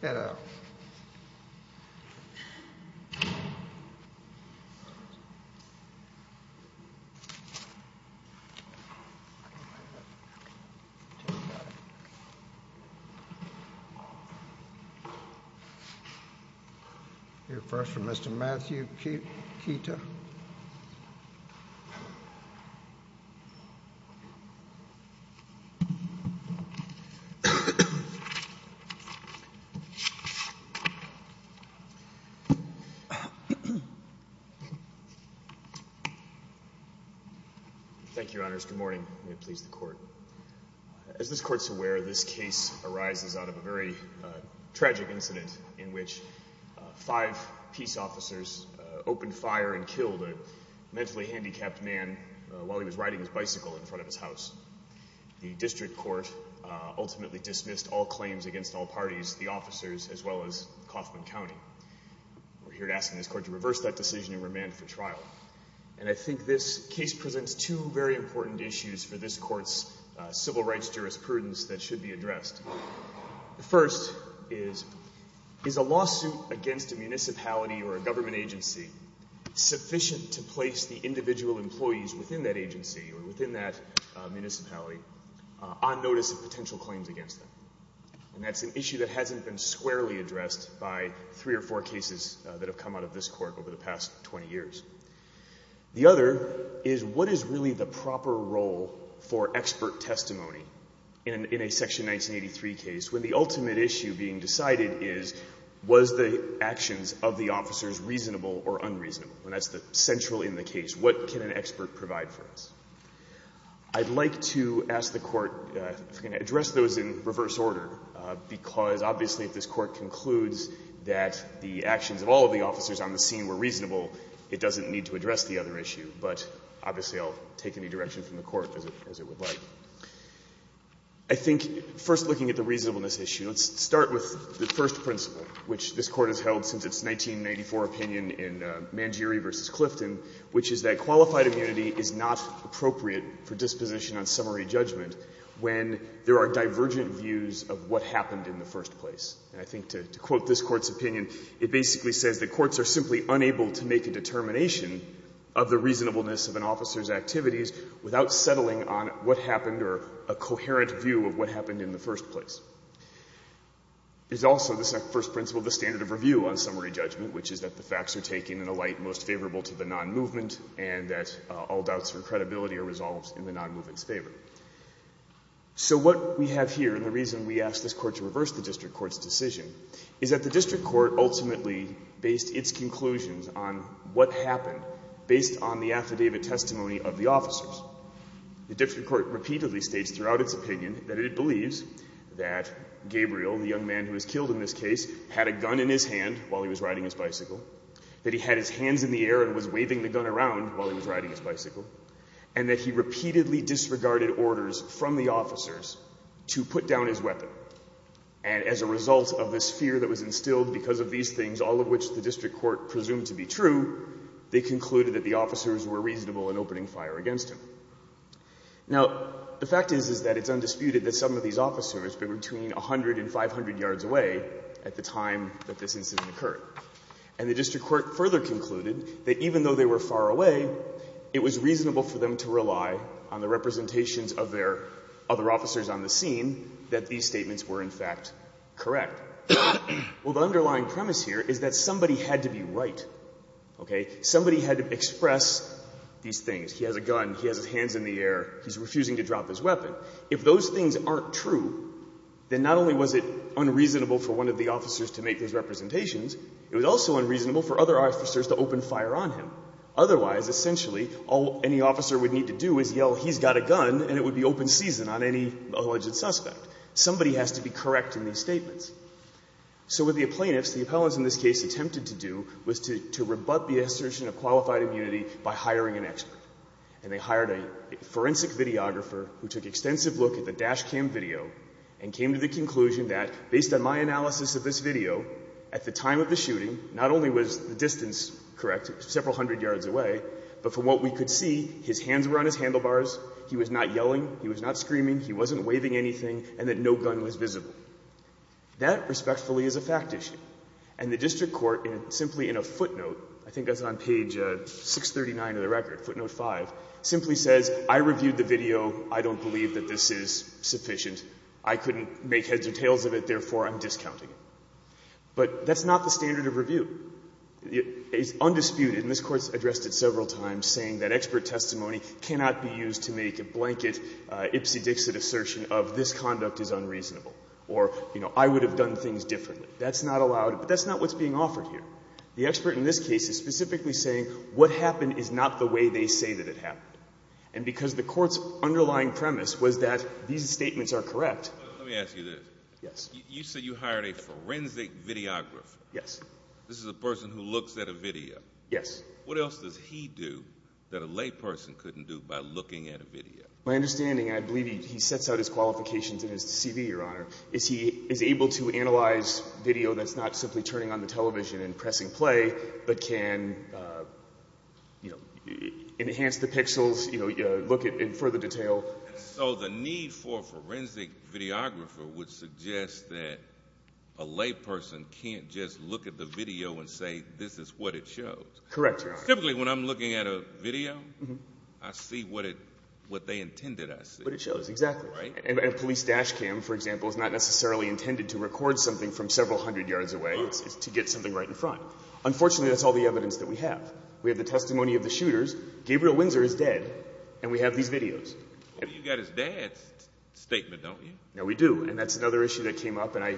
Get out. Here first for Mr. Matthew Keita. Thank you, Your Honors. Good morning. May it please the Court. As this Court is aware, this case arises out of a very tragic incident in which five peace officers opened fire and killed a mentally handicapped man while he was riding his bicycle in front of his house. The District Court ultimately dismissed all claims against all parties, the officers as well as Kaufman County. We're here to ask this Court to reverse that decision and remand for trial. And I think this case presents two very important issues for this Court's civil rights jurisprudence that should be addressed. The first is, is a lawsuit against a municipality or a government agency sufficient to place the individual employees within that agency or within that municipality on notice of potential claims against them? And that's an issue that hasn't been squarely addressed by three or four cases that have come out of this Court over the past 20 years. The other is, what is really the proper role for expert testimony in a Section 1983 case when the ultimate issue being decided is, was the actions of the officers reasonable or unreasonable? And that's the central in the case. What can an expert provide for us? I'd like to ask the Court if we can address those in reverse order, because obviously if this Court concludes that the actions of all of the officers on the scene were reasonable, it doesn't need to address the other issue. But obviously, I'll take any direction from the Court as it would like. I think first looking at the reasonableness issue, let's start with the first principle, which this Court has held since its 1994 opinion in Mangieri v. Clifton, which is that qualified immunity is not appropriate for disposition on summary judgment when there are divergent views of what happened in the first place. And I think to quote this Court's opinion, it basically says that courts are simply unable to make a determination of the reasonableness of an officer's activities without settling on what happened or a coherent view of what happened in the first place. There's also the first principle of the standard of review on summary judgment, which is that the facts are taken in a light most favorable to the non-movement and that all doubts or credibility are resolved in the non-movement's favor. So what we have here and the reason we ask this Court to reverse the district court's decision is that the district court ultimately based its conclusions on what happened based on the affidavit testimony of the officers. The district court repeatedly states throughout its opinion that it believes that Gabriel, the young man who was killed in this case, had a gun in his hand while he was riding his bicycle, that he had his hands in the air and was waving the gun around while he was riding his bicycle, and that he repeatedly disregarded orders from the officers to put down his weapon. And as a result of this fear that was instilled because of these things, all of which the district court presumed to be true, they concluded that the officers were Now, the fact is, is that it's undisputed that some of these officers were between 100 and 500 yards away at the time that this incident occurred. And the district court further concluded that even though they were far away, it was reasonable for them to rely on the representations of their other officers on the scene that these statements were, in fact, correct. Well, the underlying premise here is that somebody had to be right, okay? Somebody had to express these things. He has a gun, he has his hands in the air, he's refusing to drop his weapon. If those things aren't true, then not only was it unreasonable for one of the officers to make those representations, it was also unreasonable for other officers to open fire on him. Otherwise, essentially, all any officer would need to do is yell, he's got a gun, and it would be open season on any alleged suspect. Somebody has to be correct in these statements. So what the plaintiffs, the appellants in this case, attempted to do was to rebut the assertion of qualified immunity by hiring an expert. And they hired a forensic videographer who took extensive look at the dash cam video and came to the conclusion that, based on my analysis of this video, at the time of the shooting, not only was the distance correct, several hundred yards away, but from what we could see, his hands were on his handlebars, he was not yelling, he was not screaming, he wasn't waving anything, and that no gun was visible. That, respectfully, is a fact issue. And the district court, simply in a footnote, I think that's on page 639 of the record, footnote 5, simply says, I reviewed the video. I don't believe that this is sufficient. I couldn't make heads or tails of it, therefore, I'm discounting it. But that's not the standard of review. It's undisputed, and this Court's addressed it several times, saying that expert testimony cannot be used to make a blanket ipsy-dixit assertion of this conduct is unreasonable, or, you know, I would have done things differently. That's not allowed, but that's not what's being offered here. The expert in this case is specifically saying what happened is not the way they say that it happened, and because the Court's underlying premise was that these statements are correct. Let me ask you this. Yes. You said you hired a forensic videographer. Yes. This is a person who looks at a video. Yes. What else does he do that a layperson couldn't do by looking at a video? My understanding, and I believe he sets out his qualifications in his CV, Your Honor, is he is able to analyze video that's not simply turning on the television and pressing play, but can, you know, enhance the pixels, you know, look in further detail. So the need for a forensic videographer would suggest that a layperson can't just look at the video and say, this is what it shows. Correct, Your Honor. Typically, when I'm looking at a video, I see what they intended I see. What it shows, exactly. Right? And a police dash cam, for example, is not necessarily intended to record something from several hundred yards away. Right. It's to get something right in front. Unfortunately, that's all the evidence that we have. We have the testimony of the shooters. Gabriel Windsor is dead, and we have these videos. You got his dad's statement, don't you? No, we do, and that's another issue that came up, and I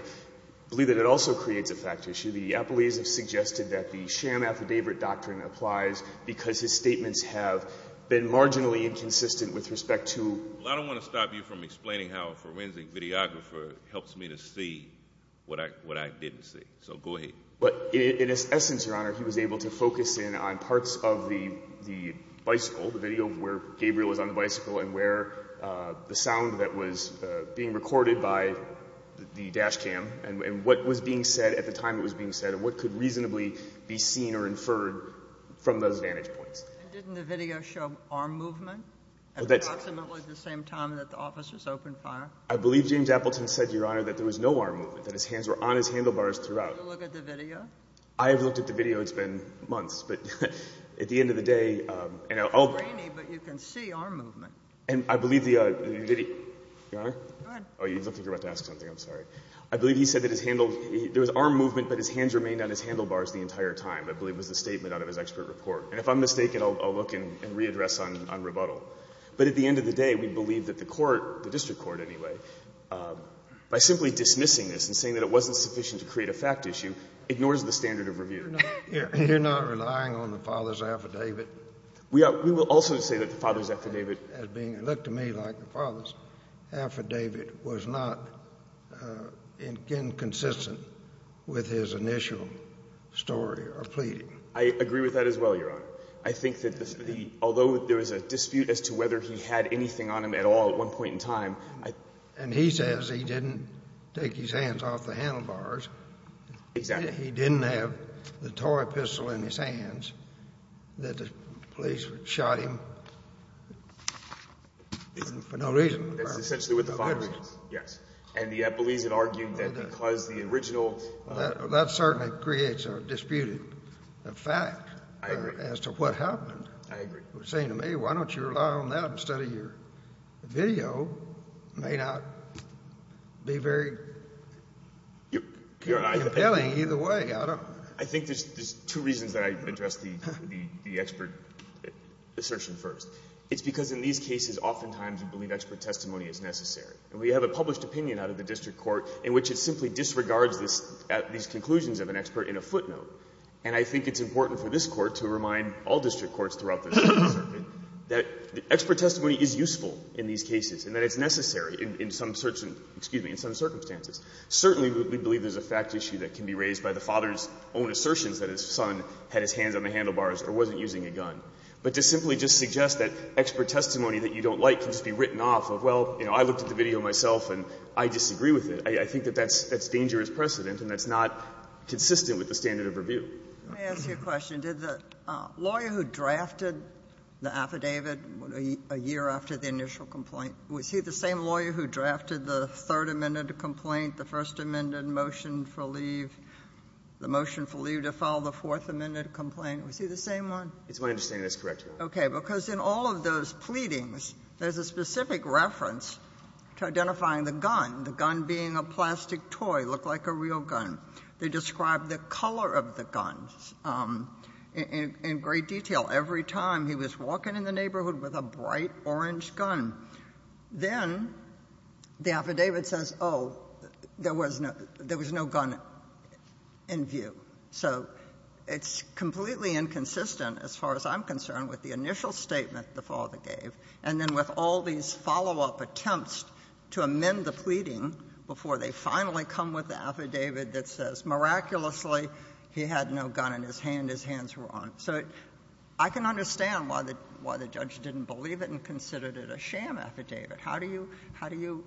believe that it also creates a fact issue. The appellees have suggested that the sham affidavit doctrine applies because his statements have been marginally inconsistent with respect to— Well, I don't want to stop you from explaining how a forensic videographer helps me to see what I didn't see. So, go ahead. In essence, Your Honor, he was able to focus in on parts of the bicycle, the video where Gabriel was on the bicycle, and where the sound that was being recorded by the dash cam, and what was being said at the time it was being said, and what could reasonably be seen or inferred from those vantage points. And didn't the video show arm movement at approximately the same time that the officers opened fire? I believe James Appleton said, Your Honor, that there was no arm movement, that his hands were on his handlebars throughout. Did you look at the video? I have looked at the video. It's been months, but at the end of the day— It's grainy, but you can see arm movement. And I believe the—Your Honor? Go ahead. Oh, you don't think you're about to ask something. I'm sorry. I believe he said that there was arm movement, but his hands remained on his handlebars the entire time, I believe was the statement out of his expert report. And if I'm mistaken, I'll look and readdress on rebuttal. But at the end of the day, we believe that the court, the district court anyway, by simply dismissing this and saying that it wasn't sufficient to create a fact issue, ignores the standard of review. You're not relying on the father's affidavit? We will also say that the father's affidavit— Looked to me like the father's affidavit was not inconsistent with his initial story or pleading. I agree with that as well, Your Honor. I think that the—although there was a dispute as to whether he had anything on him at all at one point in time— And he says he didn't take his hands off the handlebars. Exactly. He didn't have the toy pistol in his hands that the police shot him for no reason. That's essentially what the father says, yes. And the Eppolese had argued that because the original— Well, that certainly creates a disputed fact— I agree. —as to what happened. I agree. Saying to me, why don't you rely on that instead of your video, may not be very compelling either way. I don't— I think there's two reasons that I address the expert assertion first. It's because in these cases, oftentimes, we believe expert testimony is necessary. And we have a published opinion out of the district court in which it simply disregards these conclusions of an expert in a footnote. And I think it's important for this Court to remind all district courts throughout the circuit that expert testimony is useful in these cases and that it's necessary in some circumstances. Certainly, we believe there's a fact issue that can be raised by the father's own assertions that his son had his hands on the handlebars or wasn't using a gun. But to simply just suggest that expert testimony that you don't like can just be written off of, well, you know, I looked at the video myself and I disagree with it, I think that that's dangerous precedent and that's not consistent with the standard of review. Let me ask you a question. Did the lawyer who drafted the affidavit a year after the initial complaint, was he the same lawyer who drafted the Third Amendment complaint, the First Amendment motion for leave, the motion for leave to file the Fourth Amendment complaint? Was he the same one? It's my understanding that's correct, Your Honor. Okay. Because in all of those pleadings, there's a specific reference to identifying the gun, the gun being a plastic toy, looked like a real gun. They described the color of the gun in great detail. Every time he was walking in the neighborhood with a bright orange gun. Then the affidavit says, oh, there was no gun in view. So it's completely inconsistent as far as I'm concerned with the initial statement the father gave and then with all these follow-up attempts to amend the pleading before they finally come with the affidavit that says, miraculously, he had no gun in his hand, his hands were on. So I can understand why the judge didn't believe it and considered it a sham affidavit. How do you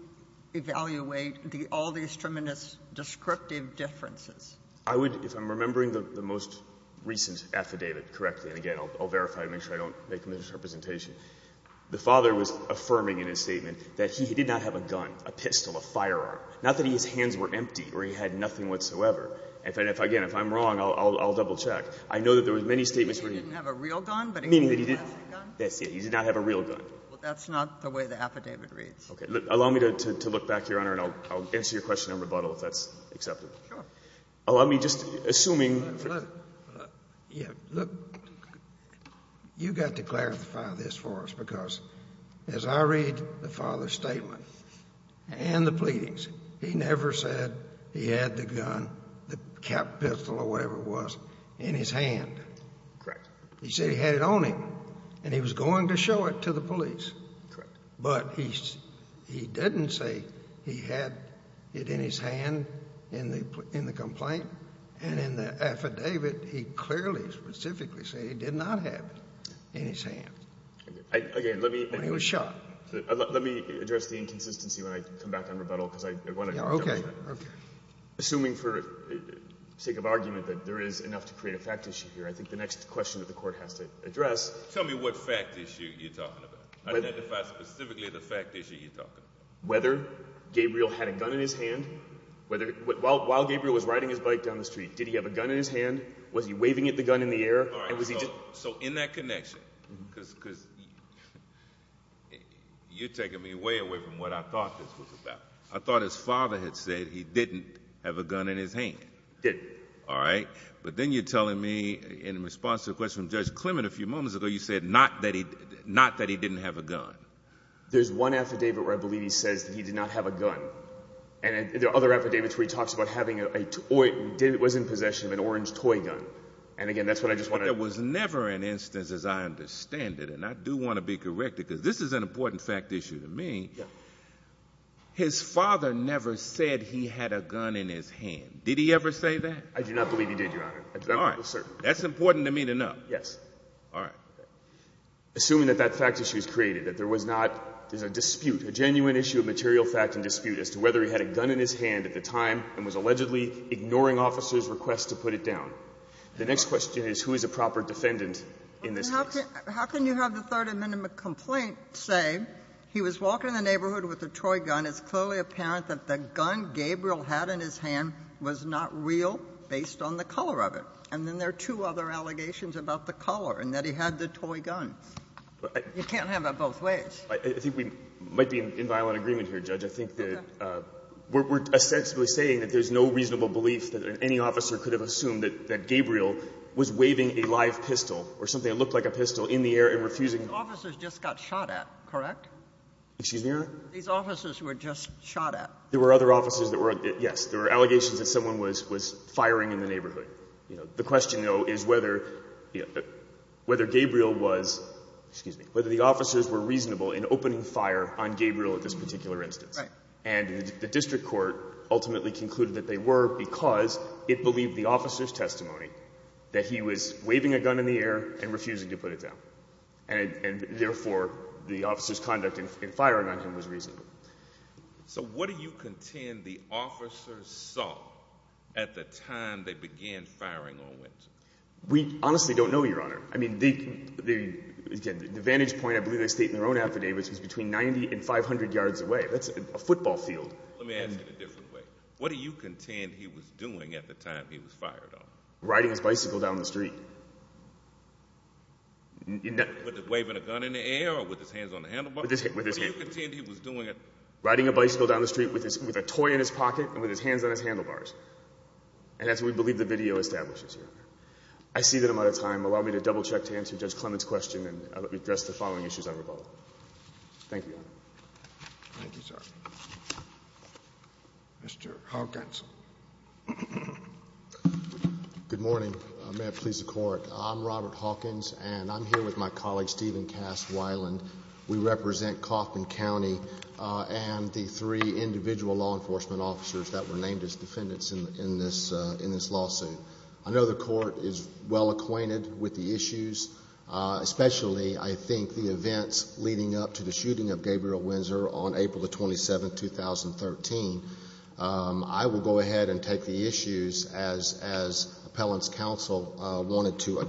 evaluate all these tremendous descriptive differences? I would, if I'm remembering the most recent affidavit correctly, and again, I'll verify it and make sure I don't make a misrepresentation, the father was affirming in his statement that he did not have a gun, a pistol, a firearm. Not that his hands were empty or he had nothing whatsoever. Again, if I'm wrong, I'll double-check. I know that there were many statements where he didn't have a real gun, but he did have a gun. He did not have a real gun. That's not the way the affidavit reads. Okay. Allow me to look back, Your Honor, and I'll answer your question in rebuttal if that's acceptable. Sure. Allow me, just assuming... Yeah, look, you've got to clarify this for us, because as I read the father's statement and the pleadings, he never said he had the gun, the pistol or whatever it was, in his hand. Correct. He said he had it on him, and he was going to show it to the police. Correct. But he didn't say he had it in his hand in the complaint. And in the affidavit, he clearly, specifically said he did not have it in his hand. Again, let me... When he was shot. Let me address the inconsistency when I come back on rebuttal, because I want to double-check. Okay. Assuming, for sake of argument, that there is enough to create a fact issue here, I think the next question that the Court has to address... Tell me what fact issue you're talking about. Identify specifically the fact issue you're talking about. Whether Gabriel had a gun in his hand. While Gabriel was riding his bike down the street, did he have a gun in his hand? Was he waving the gun in the air? All right. So in that connection, because you're taking me way away from what I thought this was about. I thought his father had said he didn't have a gun in his hand. Didn't. All right. But then you're telling me, in response to a question from Judge Clement a few There's one affidavit where I believe he says that he did not have a gun. And there are other affidavits where he talks about having a toy. David was in possession of an orange toy gun. And, again, that's what I just want to... But there was never an instance, as I understand it, and I do want to be correct, because this is an important fact issue to me. Yeah. His father never said he had a gun in his hand. Did he ever say that? I do not believe he did, Your Honor. I'm certain. All right. That's important to me to know. Yes. All right. Assuming that that fact issue is created, that there was not a dispute, a genuine issue of material fact and dispute as to whether he had a gun in his hand at the time and was allegedly ignoring officers' requests to put it down. The next question is, who is a proper defendant in this case? How can you have the third amendment complaint say he was walking in the neighborhood with a toy gun. It's clearly apparent that the gun Gabriel had in his hand was not real based on the color of it. And then there are two other allegations about the color and that he had the toy gun. You can't have it both ways. I think we might be in violent agreement here, Judge. Okay. I think that we're ostensibly saying that there's no reasonable belief that any officer could have assumed that Gabriel was waving a live pistol or something that looked like a pistol in the air and refusing. These officers just got shot at, correct? Excuse me, Your Honor? These officers were just shot at. There were other officers that were, yes. There were allegations that someone was firing in the neighborhood. The question, though, is whether Gabriel was, excuse me, whether the officers were reasonable in opening fire on Gabriel at this particular instance. Right. And the district court ultimately concluded that they were because it believed the officer's testimony that he was waving a gun in the air and refusing to put it down. And therefore, the officer's conduct in firing on him was reasonable. So what do you contend the officer saw at the time they began firing on Winsor? We honestly don't know, Your Honor. I mean, the vantage point, I believe they state in their own affidavits, was between 90 and 500 yards away. That's a football field. Let me ask you it a different way. What do you contend he was doing at the time he was fired on? Riding his bicycle down the street. With waving a gun in the air or with his hands on the handlebars? With his hands. What do you contend he was doing? Riding a bicycle down the street with a toy in his pocket and with his hands on his handlebars. And that's what we believe the video establishes, Your Honor. I see that I'm out of time. Allow me to double-check to answer Judge Clement's question, and I'll let you address the following issues on revolt. Thank you, Your Honor. Thank you, sir. Mr. Hawkins. Good morning. May it please the Court. I'm Robert Hawkins, and I'm here with my colleague Stephen Cass Weiland. We represent Coffman County and the three individual law enforcement officers that were named as defendants in this lawsuit. I know the Court is well acquainted with the issues, especially, I think, the events leading up to the shooting of Gabriel Windsor on April 27, 2013. I will go ahead and take the issues as appellant's counsel wanted to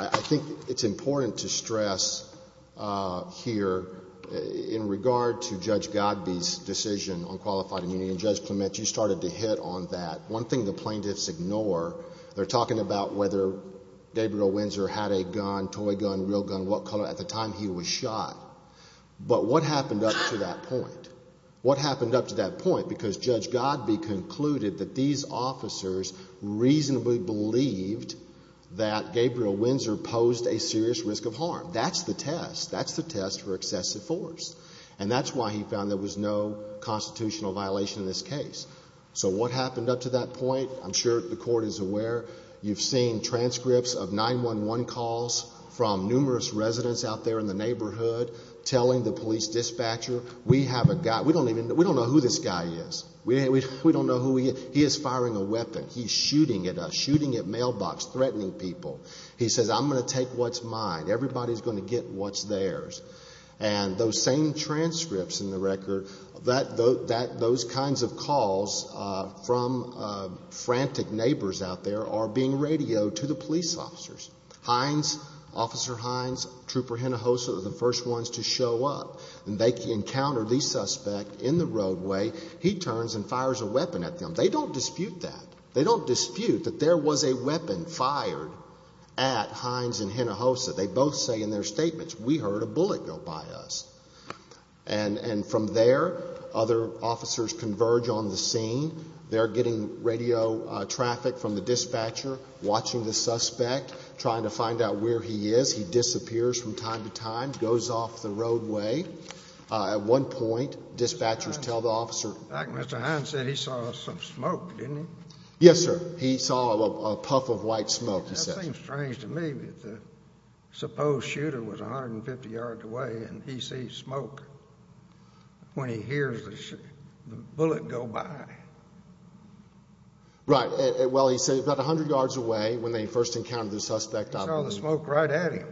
I think it's important to stress here in regard to Judge Godbee's decision on qualified immunity, and Judge Clement, you started to hit on that. One thing the plaintiffs ignore, they're talking about whether Gabriel Windsor had a gun, toy gun, real gun, what color. At the time, he was shot. But what happened up to that point? What happened up to that point? Because Judge Godbee concluded that these officers reasonably believed that Gabriel Windsor posed a serious risk of harm. That's the test. That's the test for excessive force. And that's why he found there was no constitutional violation in this case. So what happened up to that point? I'm sure the Court is aware. You've seen transcripts of 911 calls from numerous residents out there in the neighborhood telling the police dispatcher, we have a guy, we don't know who this guy is. We don't know who he is. He is firing a weapon. He's shooting at us, shooting at mailbox, threatening people. He says, I'm going to take what's mine. Everybody's going to get what's theirs. And those same transcripts in the record, those kinds of calls from frantic neighbors out there are being radioed to the police officers. Hines, Officer Hines, Trooper Hinojosa are the first ones to show up. And they encounter the suspect in the roadway. He turns and fires a weapon at them. They don't dispute that. They don't dispute that there was a weapon fired at Hines and Hinojosa. They both say in their statements, we heard a bullet go by us. And from there, other officers converge on the scene. They're getting radio traffic from the dispatcher, watching the suspect, trying to find out where he is. He disappears from time to time, goes off the roadway. At one point, dispatchers tell the officer. In fact, Mr. Hines said he saw some smoke, didn't he? Yes, sir. He saw a puff of white smoke, he said. That seems strange to me, but the supposed shooter was 150 yards away, and he sees smoke when he hears the bullet go by. Right. Well, he said about 100 yards away when they first encountered the suspect. He saw the smoke right at him.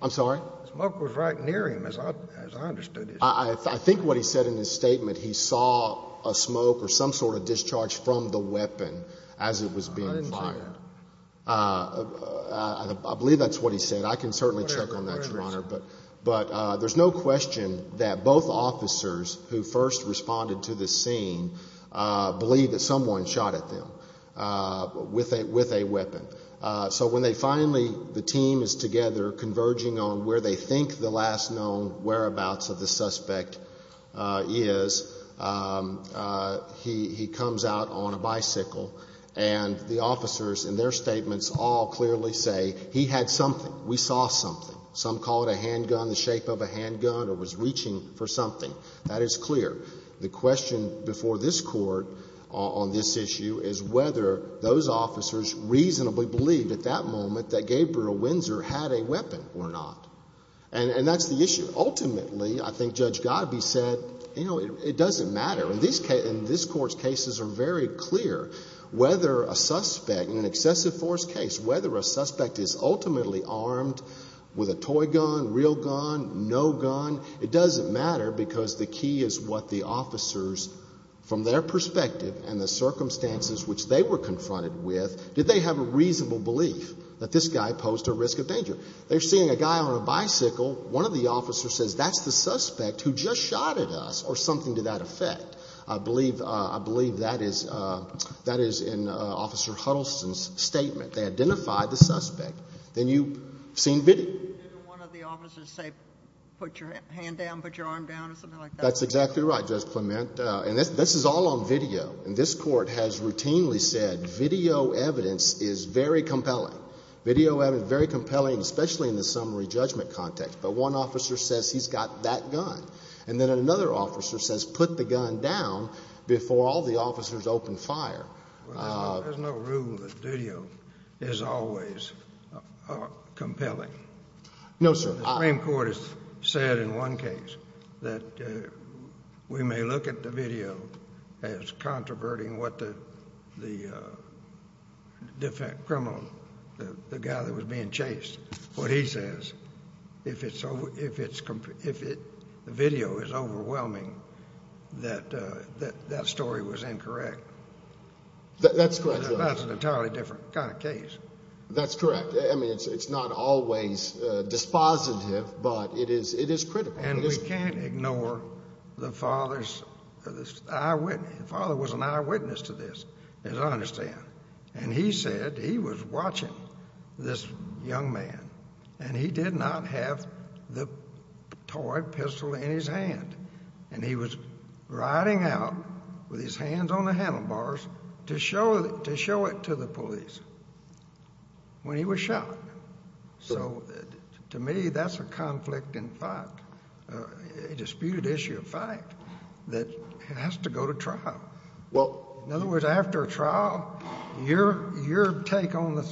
I'm sorry? The smoke was right near him, as I understood it. I think what he said in his statement, he saw a smoke or some sort of discharge from the weapon as it was being fired. I didn't see that. I believe that's what he said. I can certainly check on that, Your Honor. But there's no question that both officers who first responded to this scene believe that someone shot at them with a weapon. So when they finally, the team is together, converging on where they think the last known whereabouts of the suspect is, he comes out on a bicycle, and the officers in their statements all clearly say, he had something, we saw something. Some call it a handgun, the shape of a handgun, or was reaching for something. That is clear. The question before this Court on this issue is whether those officers reasonably believed at that moment that Gabriel Windsor had a weapon or not. And that's the issue. Ultimately, I think Judge Godbee said, you know, it doesn't matter. And this Court's cases are very clear. Whether a suspect in an excessive force case, whether a suspect is ultimately armed with a toy gun, real gun, no gun, it doesn't matter because the key is what the officers, from their perspective and the circumstances which they were confronted with, did they have a reasonable belief that this guy posed a risk of danger? They're seeing a guy on a bicycle. One of the officers says, that's the suspect who just shot at us, or something to that effect. I believe that is in Officer Huddleston's statement. They identified the suspect. Then you've seen video. Didn't one of the officers say, put your hand down, put your arm down, or something like that? That's exactly right. I apologize, Clement. And this is all on video. And this Court has routinely said video evidence is very compelling. Video evidence is very compelling, especially in the summary judgment context. But one officer says he's got that gun. And then another officer says put the gun down before all the officers open fire. No, sir. The Supreme Court has said in one case that we may look at the video as controverting what the defendant, criminal, the guy that was being chased. What he says, if the video is overwhelming, that that story was incorrect. That's correct. That's an entirely different kind of case. That's correct. I mean, it's not always dispositive, but it is critical. And we can't ignore the father's eyewitness. The father was an eyewitness to this, as I understand. And he said he was watching this young man, and he did not have the toy pistol in his hand. And he was riding out with his hands on the handlebars to show it to the police. When he was shot. So to me, that's a conflict in fact, a disputed issue of fact, that has to go to trial. In other words, after a trial, your take on the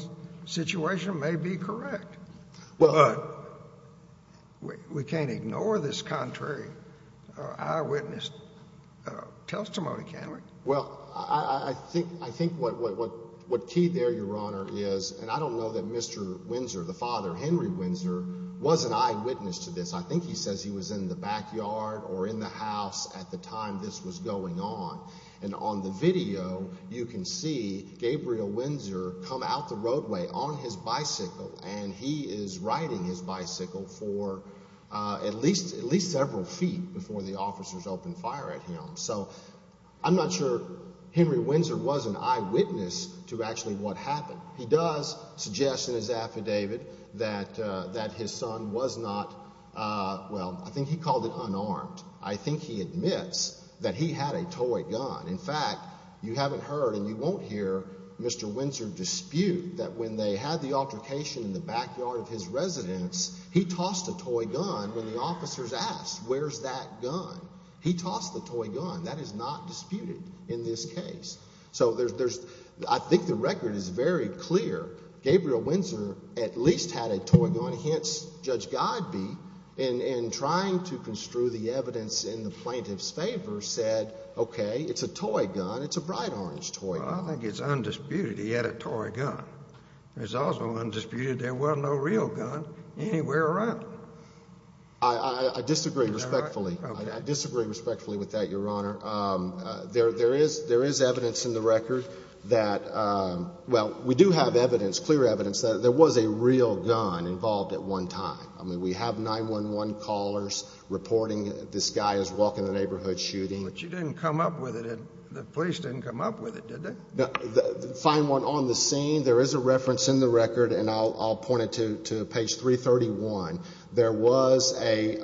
situation may be correct. But we can't ignore this contrary eyewitness testimony, can we? Well, I think what key there, Your Honor, is, and I don't know that Mr. Windsor, the father, Henry Windsor, was an eyewitness to this. I think he says he was in the backyard or in the house at the time this was going on. And on the video, you can see Gabriel Windsor come out the roadway on his bicycle, and he is riding his bicycle for at least several feet before the officers open fire at him. So I'm not sure Henry Windsor was an eyewitness to actually what happened. He does suggest in his affidavit that his son was not, well, I think he called it unarmed. I think he admits that he had a toy gun. In fact, you haven't heard and you won't hear Mr. Windsor dispute that when they had the altercation in the backyard of his residence, he tossed a toy gun when the officers asked, where's that gun? He tossed the toy gun. That is not disputed in this case. So I think the record is very clear. Gabriel Windsor at least had a toy gun, hence Judge Godbee, in trying to construe the evidence in the plaintiff's favor said, okay, it's a toy gun. It's a bright orange toy gun. Well, I think it's undisputed he had a toy gun. It's also undisputed there was no real gun anywhere around. I disagree respectfully. I disagree respectfully with that, Your Honor. There is evidence in the record that, well, we do have evidence, clear evidence, that there was a real gun involved at one time. I mean, we have 911 callers reporting this guy is walking the neighborhood shooting. But you didn't come up with it. The police didn't come up with it, did they? Find one on the scene. There is a reference in the record, and I'll point it to page 331. There was a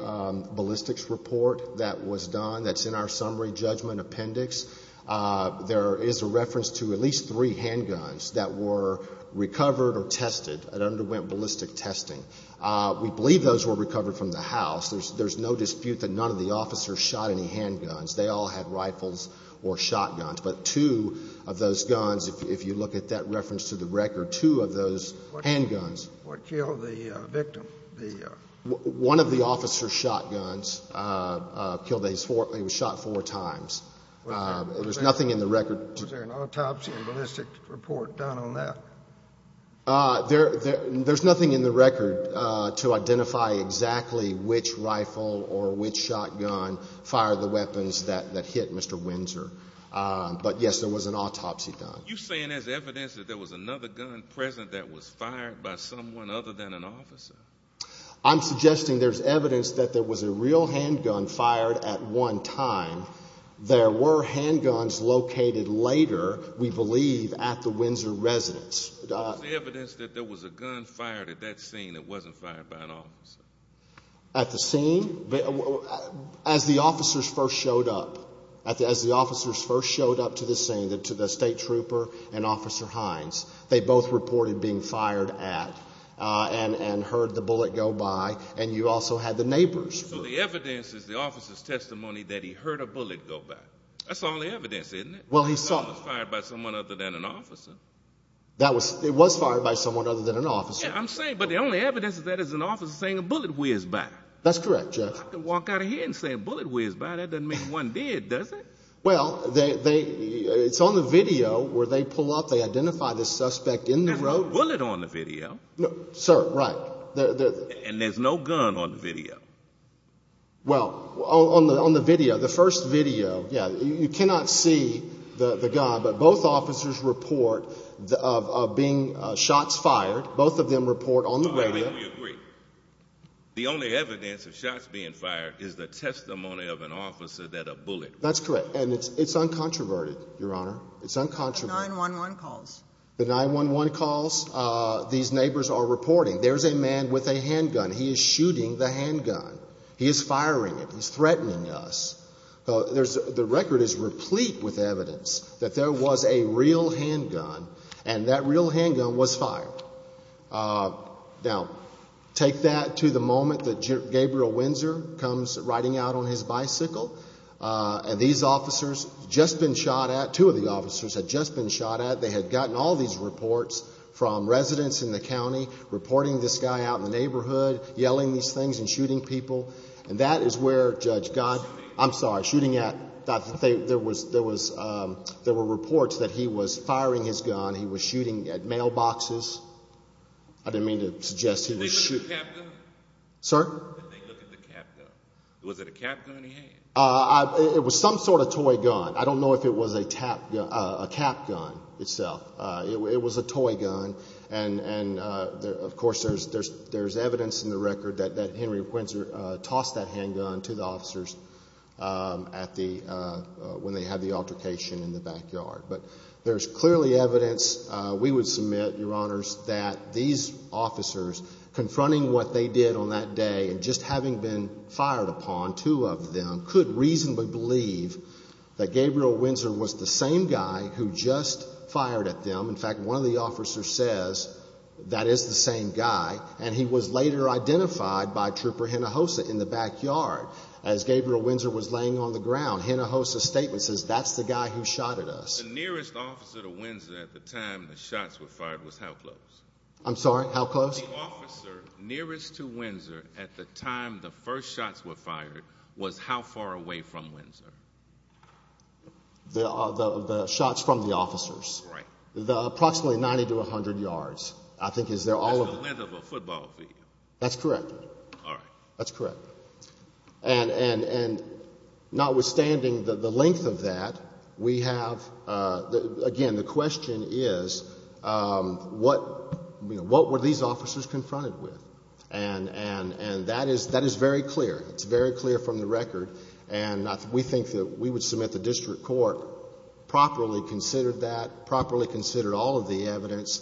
ballistics report that was done that's in our summary judgment appendix. There is a reference to at least three handguns that were recovered or tested and underwent ballistic testing. We believe those were recovered from the house. There's no dispute that none of the officers shot any handguns. They all had rifles or shotguns. But two of those guns, if you look at that reference to the record, two of those handguns. What killed the victim? One of the officers shot guns. He was shot four times. There's nothing in the record. Was there an autopsy and ballistics report done on that? There's nothing in the record to identify exactly which rifle or which shotgun fired the weapons that hit Mr. Windsor. But, yes, there was an autopsy done. Are you saying there's evidence that there was another gun present that was fired by someone other than an officer? I'm suggesting there's evidence that there was a real handgun fired at one time. There were handguns located later, we believe, at the Windsor residence. Is there evidence that there was a gun fired at that scene that wasn't fired by an officer? At the scene? As the officers first showed up. As the officers first showed up to the scene, to the state trooper and Officer Hines, they both reported being fired at and heard the bullet go by, and you also had the neighbors. So the evidence is the officer's testimony that he heard a bullet go by. That's all the evidence, isn't it? Well, he saw it. It was fired by someone other than an officer. It was fired by someone other than an officer. Yes, I'm saying, but the only evidence of that is an officer saying a bullet whizzed by. That's correct, Judge. I can walk out of here and say a bullet whizzed by. That doesn't mean one did, does it? Well, it's on the video where they pull up. They identify the suspect in the road. There's no bullet on the video. Sir, right. And there's no gun on the video. Well, on the video, the first video, yeah, you cannot see the gun, but both officers report of being shots fired. Both of them report on the radio. I mean, we agree. The only evidence of shots being fired is the testimony of an officer that a bullet whizzed by. That's correct, and it's uncontroverted, Your Honor. It's uncontroverted. 911 calls. The 911 calls. These neighbors are reporting there's a man with a handgun. He is shooting the handgun. He is firing it. He's threatening us. The record is replete with evidence that there was a real handgun, and that real handgun was fired. Now, take that to the moment that Gabriel Windsor comes riding out on his bicycle, and these officers had just been shot at. Two of the officers had just been shot at. They had gotten all these reports from residents in the county, reporting this guy out in the neighborhood, yelling these things and shooting people. And that is where, Judge, God. I'm sorry, shooting at. There were reports that he was firing his gun. He was shooting at mailboxes. I didn't mean to suggest he was shooting. Did they look at the cap gun? Sir? Did they look at the cap gun? Was it a cap gun he had? It was some sort of toy gun. I don't know if it was a cap gun itself. It was a toy gun, and, of course, there's evidence in the record that Henry Windsor tossed that handgun to the officers when they had the altercation in the backyard. But there's clearly evidence, we would submit, Your Honors, that these officers, confronting what they did on that day and just having been fired upon, two of them, could reasonably believe that Gabriel Windsor was the same guy who just fired at them. In fact, one of the officers says that is the same guy, and he was later identified by Trooper Hinojosa in the backyard as Gabriel Windsor was laying on the ground. Hinojosa's statement says that's the guy who shot at us. The nearest officer to Windsor at the time the shots were fired was how close? I'm sorry? How close? The officer nearest to Windsor at the time the first shots were fired was how far away from Windsor? The shots from the officers. Right. Approximately 90 to 100 yards, I think, is their all of them. That's the length of a football field. That's correct. All right. That's correct. And notwithstanding the length of that, we have, again, the question is what were these officers confronted with? And that is very clear. It's very clear from the record, and we think that we would submit the district court properly considered that, properly considered all of the evidence,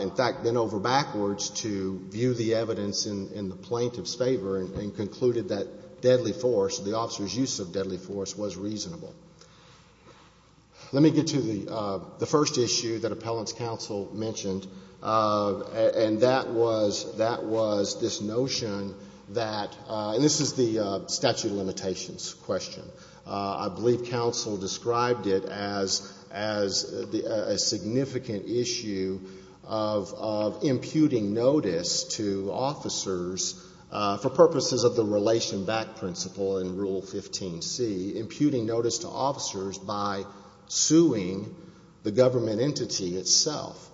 in fact, bent over backwards to view the evidence in the plaintiff's favor and concluded that deadly force, the officer's use of deadly force, was reasonable. Let me get to the first issue that appellant's counsel mentioned, and that was this notion that, and this is the statute of limitations question. I believe counsel described it as a significant issue of imputing notice to officers for purposes of the relation back principle in Rule 15C, imputing notice to officers by suing the government entity itself.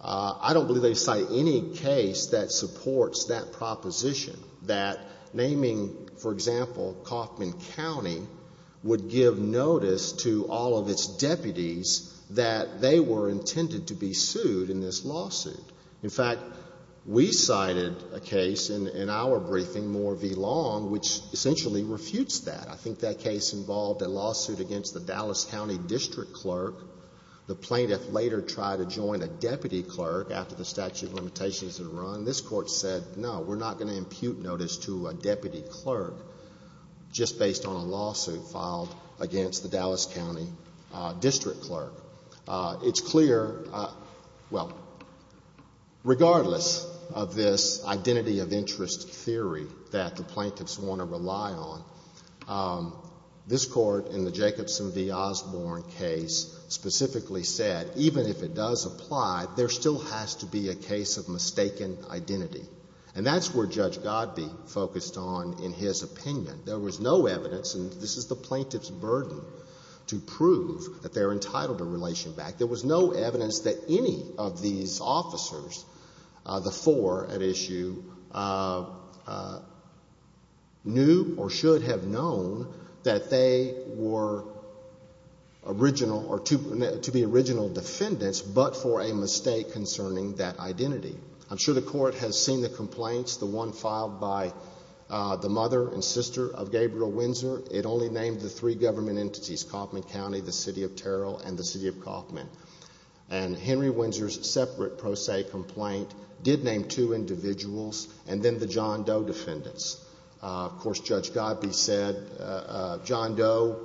I don't believe they cite any case that supports that proposition, that naming, for example, Coffman County would give notice to all of its deputies that they were intended to be sued in this lawsuit. In fact, we cited a case in our briefing, Moore v. Long, which essentially refutes that. I think that case involved a lawsuit against the Dallas County district clerk. The plaintiff later tried to join a deputy clerk after the statute of limitations had run. This Court said, no, we're not going to impute notice to a deputy clerk just based on a lawsuit filed against the Dallas County district clerk. It's clear, well, regardless of this identity of interest theory that the plaintiffs want to rely on, this Court in the Jacobson v. Osborne case specifically said, even if it does apply, there still has to be a case of mistaken identity. And that's where Judge Godbee focused on in his opinion. There was no evidence, and this is the plaintiff's burden, to prove that they're entitled to relation back. There was no evidence that any of these officers, the four at issue, knew or should have known that they were to be original defendants, but for a mistake concerning that identity. I'm sure the Court has seen the complaints, the one filed by the mother and sister of Gabriel Windsor. It only named the three government entities, Coffman County, the City of Terrell, and the City of Coffman. And Henry Windsor's separate pro se complaint did name two individuals and then the John Doe defendants. Of course, Judge Godbee said, John Doe,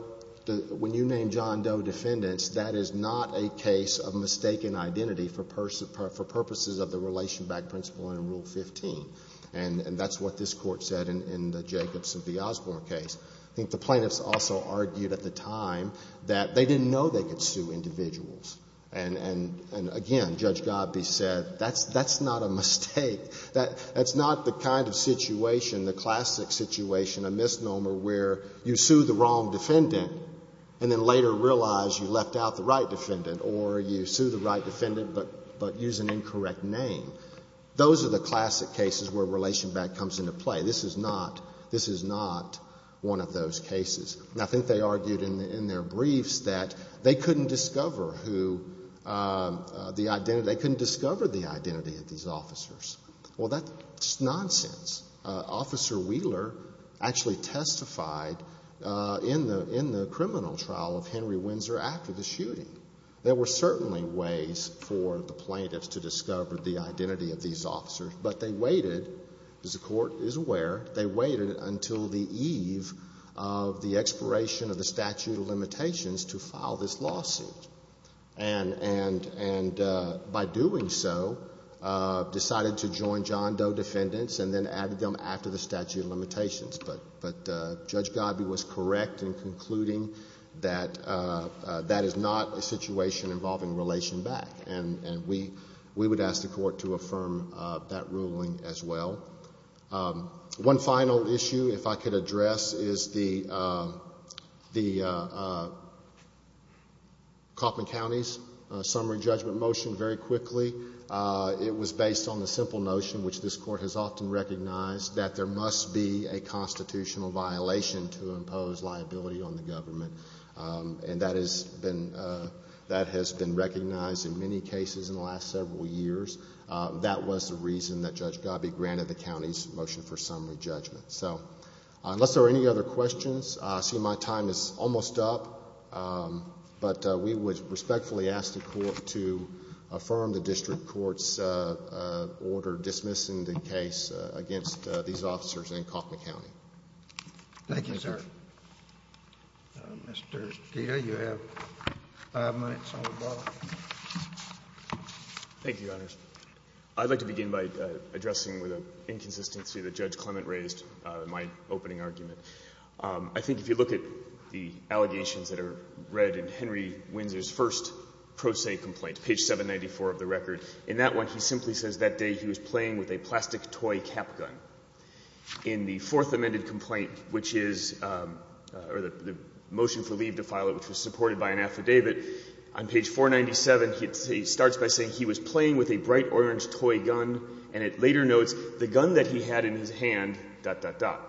when you name John Doe defendants, that is not a case of mistaken identity for purposes of the relation back principle under Rule 15. And that's what this Court said in the Jacobson v. Osborne case. I think the plaintiffs also argued at the time that they didn't know they could sue individuals. And again, Judge Godbee said, that's not a mistake. That's not the kind of situation, the classic situation, a misnomer where you sue the wrong defendant and then later realize you left out the right defendant or you sue the right defendant but use an incorrect name. Those are the classic cases where relation back comes into play. This is not one of those cases. And I think they argued in their briefs that they couldn't discover the identity of these officers. Well, that's nonsense. Officer Wheeler actually testified in the criminal trial of Henry Windsor after the shooting. There were certainly ways for the plaintiffs to discover the identity of these officers. But they waited, as the Court is aware, they waited until the eve of the expiration of the statute of limitations to file this lawsuit. And by doing so, decided to join John Doe defendants and then added them after the statute of limitations. But Judge Godbee was correct in concluding that that is not a situation involving relation back. And we would ask the Court to affirm that ruling as well. One final issue, if I could address, is the Kauffman County's summary judgment motion. Very quickly, it was based on the simple notion, which this Court has often recognized, that there must be a constitutional violation to impose liability on the government. And that has been recognized in many cases in the last several years. That was the reason that Judge Godbee granted the County's motion for summary judgment. So, unless there are any other questions, I see my time is almost up. But we would respectfully ask the Court to affirm the District Court's order dismissing the case against these officers in Kauffman County. Thank you, sir. Mr. Dia, you have five minutes on the ball. Thank you, Your Honors. I'd like to begin by addressing the inconsistency that Judge Clement raised in my opening argument. I think if you look at the allegations that are read in Henry Windsor's first pro se complaint, page 794 of the record, in that one he simply says that day he was playing with a plastic toy cap gun. In the Fourth Amendment complaint, which is, or the motion for leave to file it, which was supported by an affidavit, on page 497 he starts by saying he was playing with a bright orange toy gun, and it later notes the gun that he had in his hand, dot, dot, dot.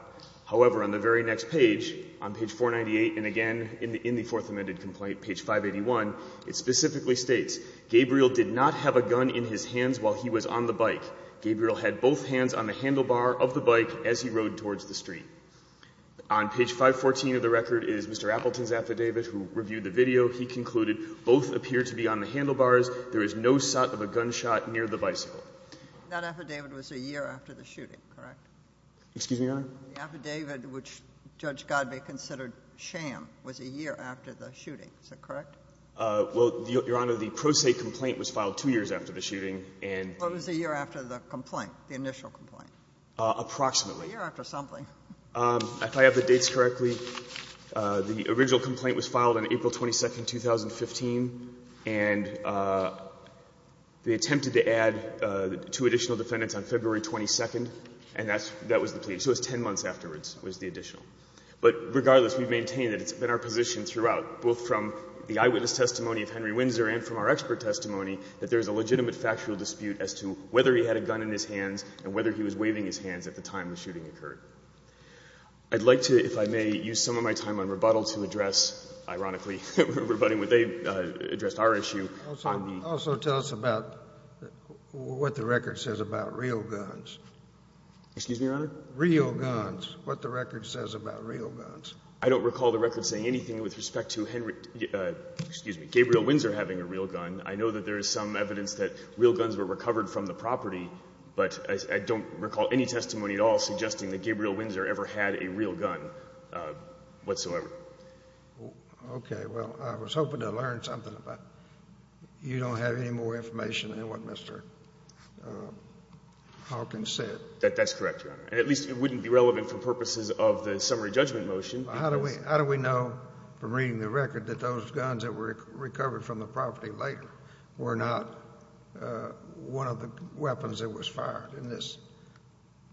However, on the very next page, on page 498, and again in the Fourth Amendment complaint, page 581, it specifically states, Gabriel did not have a gun in his hands while he was on the bike. Gabriel had both hands on the handlebar of the bike as he rode towards the street. On page 514 of the record is Mr. Appleton's affidavit, who reviewed the video. He concluded, both appear to be on the handlebars. There is no sight of a gunshot near the bicycle. That affidavit was a year after the shooting, correct? Excuse me, Your Honor? The affidavit, which Judge Godbee considered sham, was a year after the shooting. Is that correct? Well, Your Honor, the pro se complaint was filed two years after the shooting and What was the year after the complaint, the initial complaint? Approximately. A year after something. If I have the dates correctly, the original complaint was filed on April 22nd, 2015, and they attempted to add two additional defendants on February 22nd, and that was the plea, so it was 10 months afterwards was the additional. But regardless, we maintain that it's been our position throughout, both from the eyewitness testimony of Henry Windsor and from our expert testimony, that there is a legitimate factual dispute as to whether he had a gun in his hands and whether he was waving his hands at the time the shooting occurred. I'd like to, if I may, use some of my time on rebuttal to address, ironically, rebutting what they addressed our issue on the— Also tell us about what the record says about real guns. Excuse me, Your Honor? Real guns, what the record says about real guns. I don't recall the record saying anything with respect to Gabriel Windsor having a real gun. I know that there is some evidence that real guns were recovered from the property, but I don't recall any testimony at all suggesting that Gabriel Windsor ever had a real gun whatsoever. Okay, well, I was hoping to learn something about it. You don't have any more information than what Mr. Hawkins said. That's correct, Your Honor. And at least it wouldn't be relevant for purposes of the summary judgment motion. How do we know from reading the record that those guns that were recovered from the property later were not one of the weapons that was fired in this?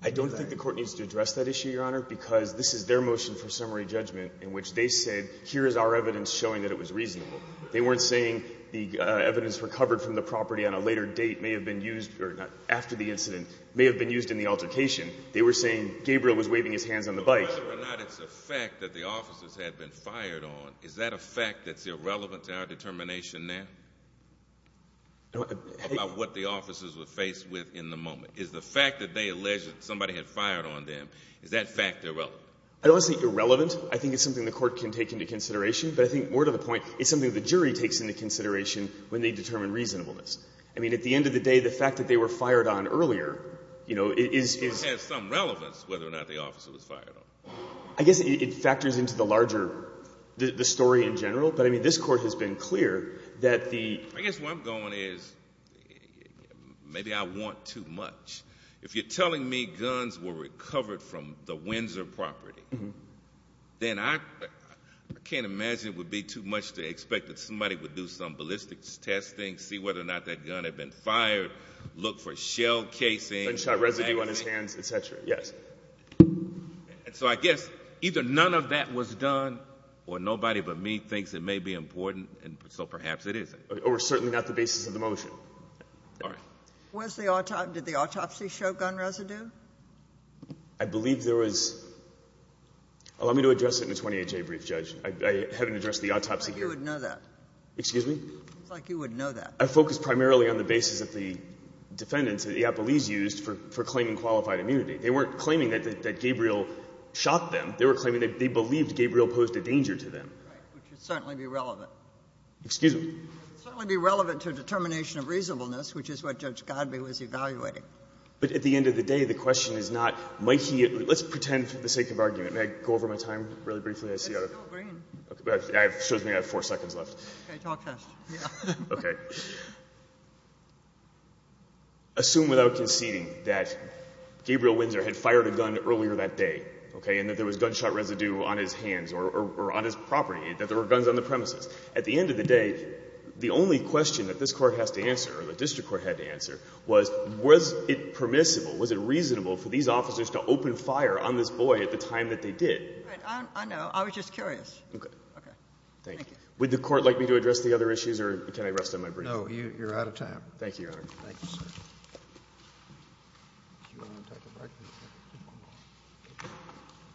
I don't think the Court needs to address that issue, Your Honor, because this is their motion for summary judgment in which they said, here is our evidence showing that it was reasonable. They weren't saying the evidence recovered from the property on a later date may have been used, or after the incident may have been used in the altercation. They were saying Gabriel was waving his hands on the bike. Whether or not it's a fact that the officers had been fired on, is that a fact that's irrelevant to our determination now about what the officers were faced with in the moment? Is the fact that they alleged that somebody had fired on them, is that fact irrelevant? I don't think it's irrelevant. I think it's something the Court can take into consideration. But I think more to the point, it's something the jury takes into consideration when they determine reasonableness. I mean, at the end of the day, the fact that they were fired on earlier, you know, is – It has some relevance whether or not the officer was fired on. I guess it factors into the larger – the story in general. But, I mean, this Court has been clear that the – I guess where I'm going is maybe I want too much. If you're telling me guns were recovered from the Windsor property, then I can't imagine it would be too much to expect that somebody would do some ballistics testing, see whether or not that gun had been fired, look for shell casing. Gunshot residue on his hands, et cetera. Yes. And so I guess either none of that was done or nobody but me thinks it may be important, and so perhaps it isn't. Or certainly not the basis of the motion. All right. Was the – did the autopsy show gun residue? I believe there was – allow me to address it in a 28-day brief, Judge. I haven't addressed the autopsy here. It's like you would know that. Excuse me? It's like you would know that. I focused primarily on the basis of the defendants that the Iapolis used for claiming qualified immunity. They weren't claiming that Gabriel shot them. They were claiming that they believed Gabriel posed a danger to them. Right. Which would certainly be relevant. Excuse me? Certainly be relevant to a determination of reasonableness, which is what Judge Godbee was evaluating. But at the end of the day, the question is not might he – let's pretend for the sake of argument. May I go over my time really briefly? I see I have – It's still green. It shows me I have four seconds left. Okay. Talk fast. Okay. Assume without conceding that Gabriel Windsor had fired a gun earlier that day, okay, and that there was gunshot residue on his hands or on his property, that there were guns on the premises. At the end of the day, the only question that this Court has to answer or the district court had to answer was, was it permissible, was it reasonable for these officers to open fire on this boy at the time that they did? I know. I was just curious. Okay. Thank you. Would the Court like me to address the other issues or can I rest on my brief? No, you're out of time. Thank you, Your Honor. Thank you, sir.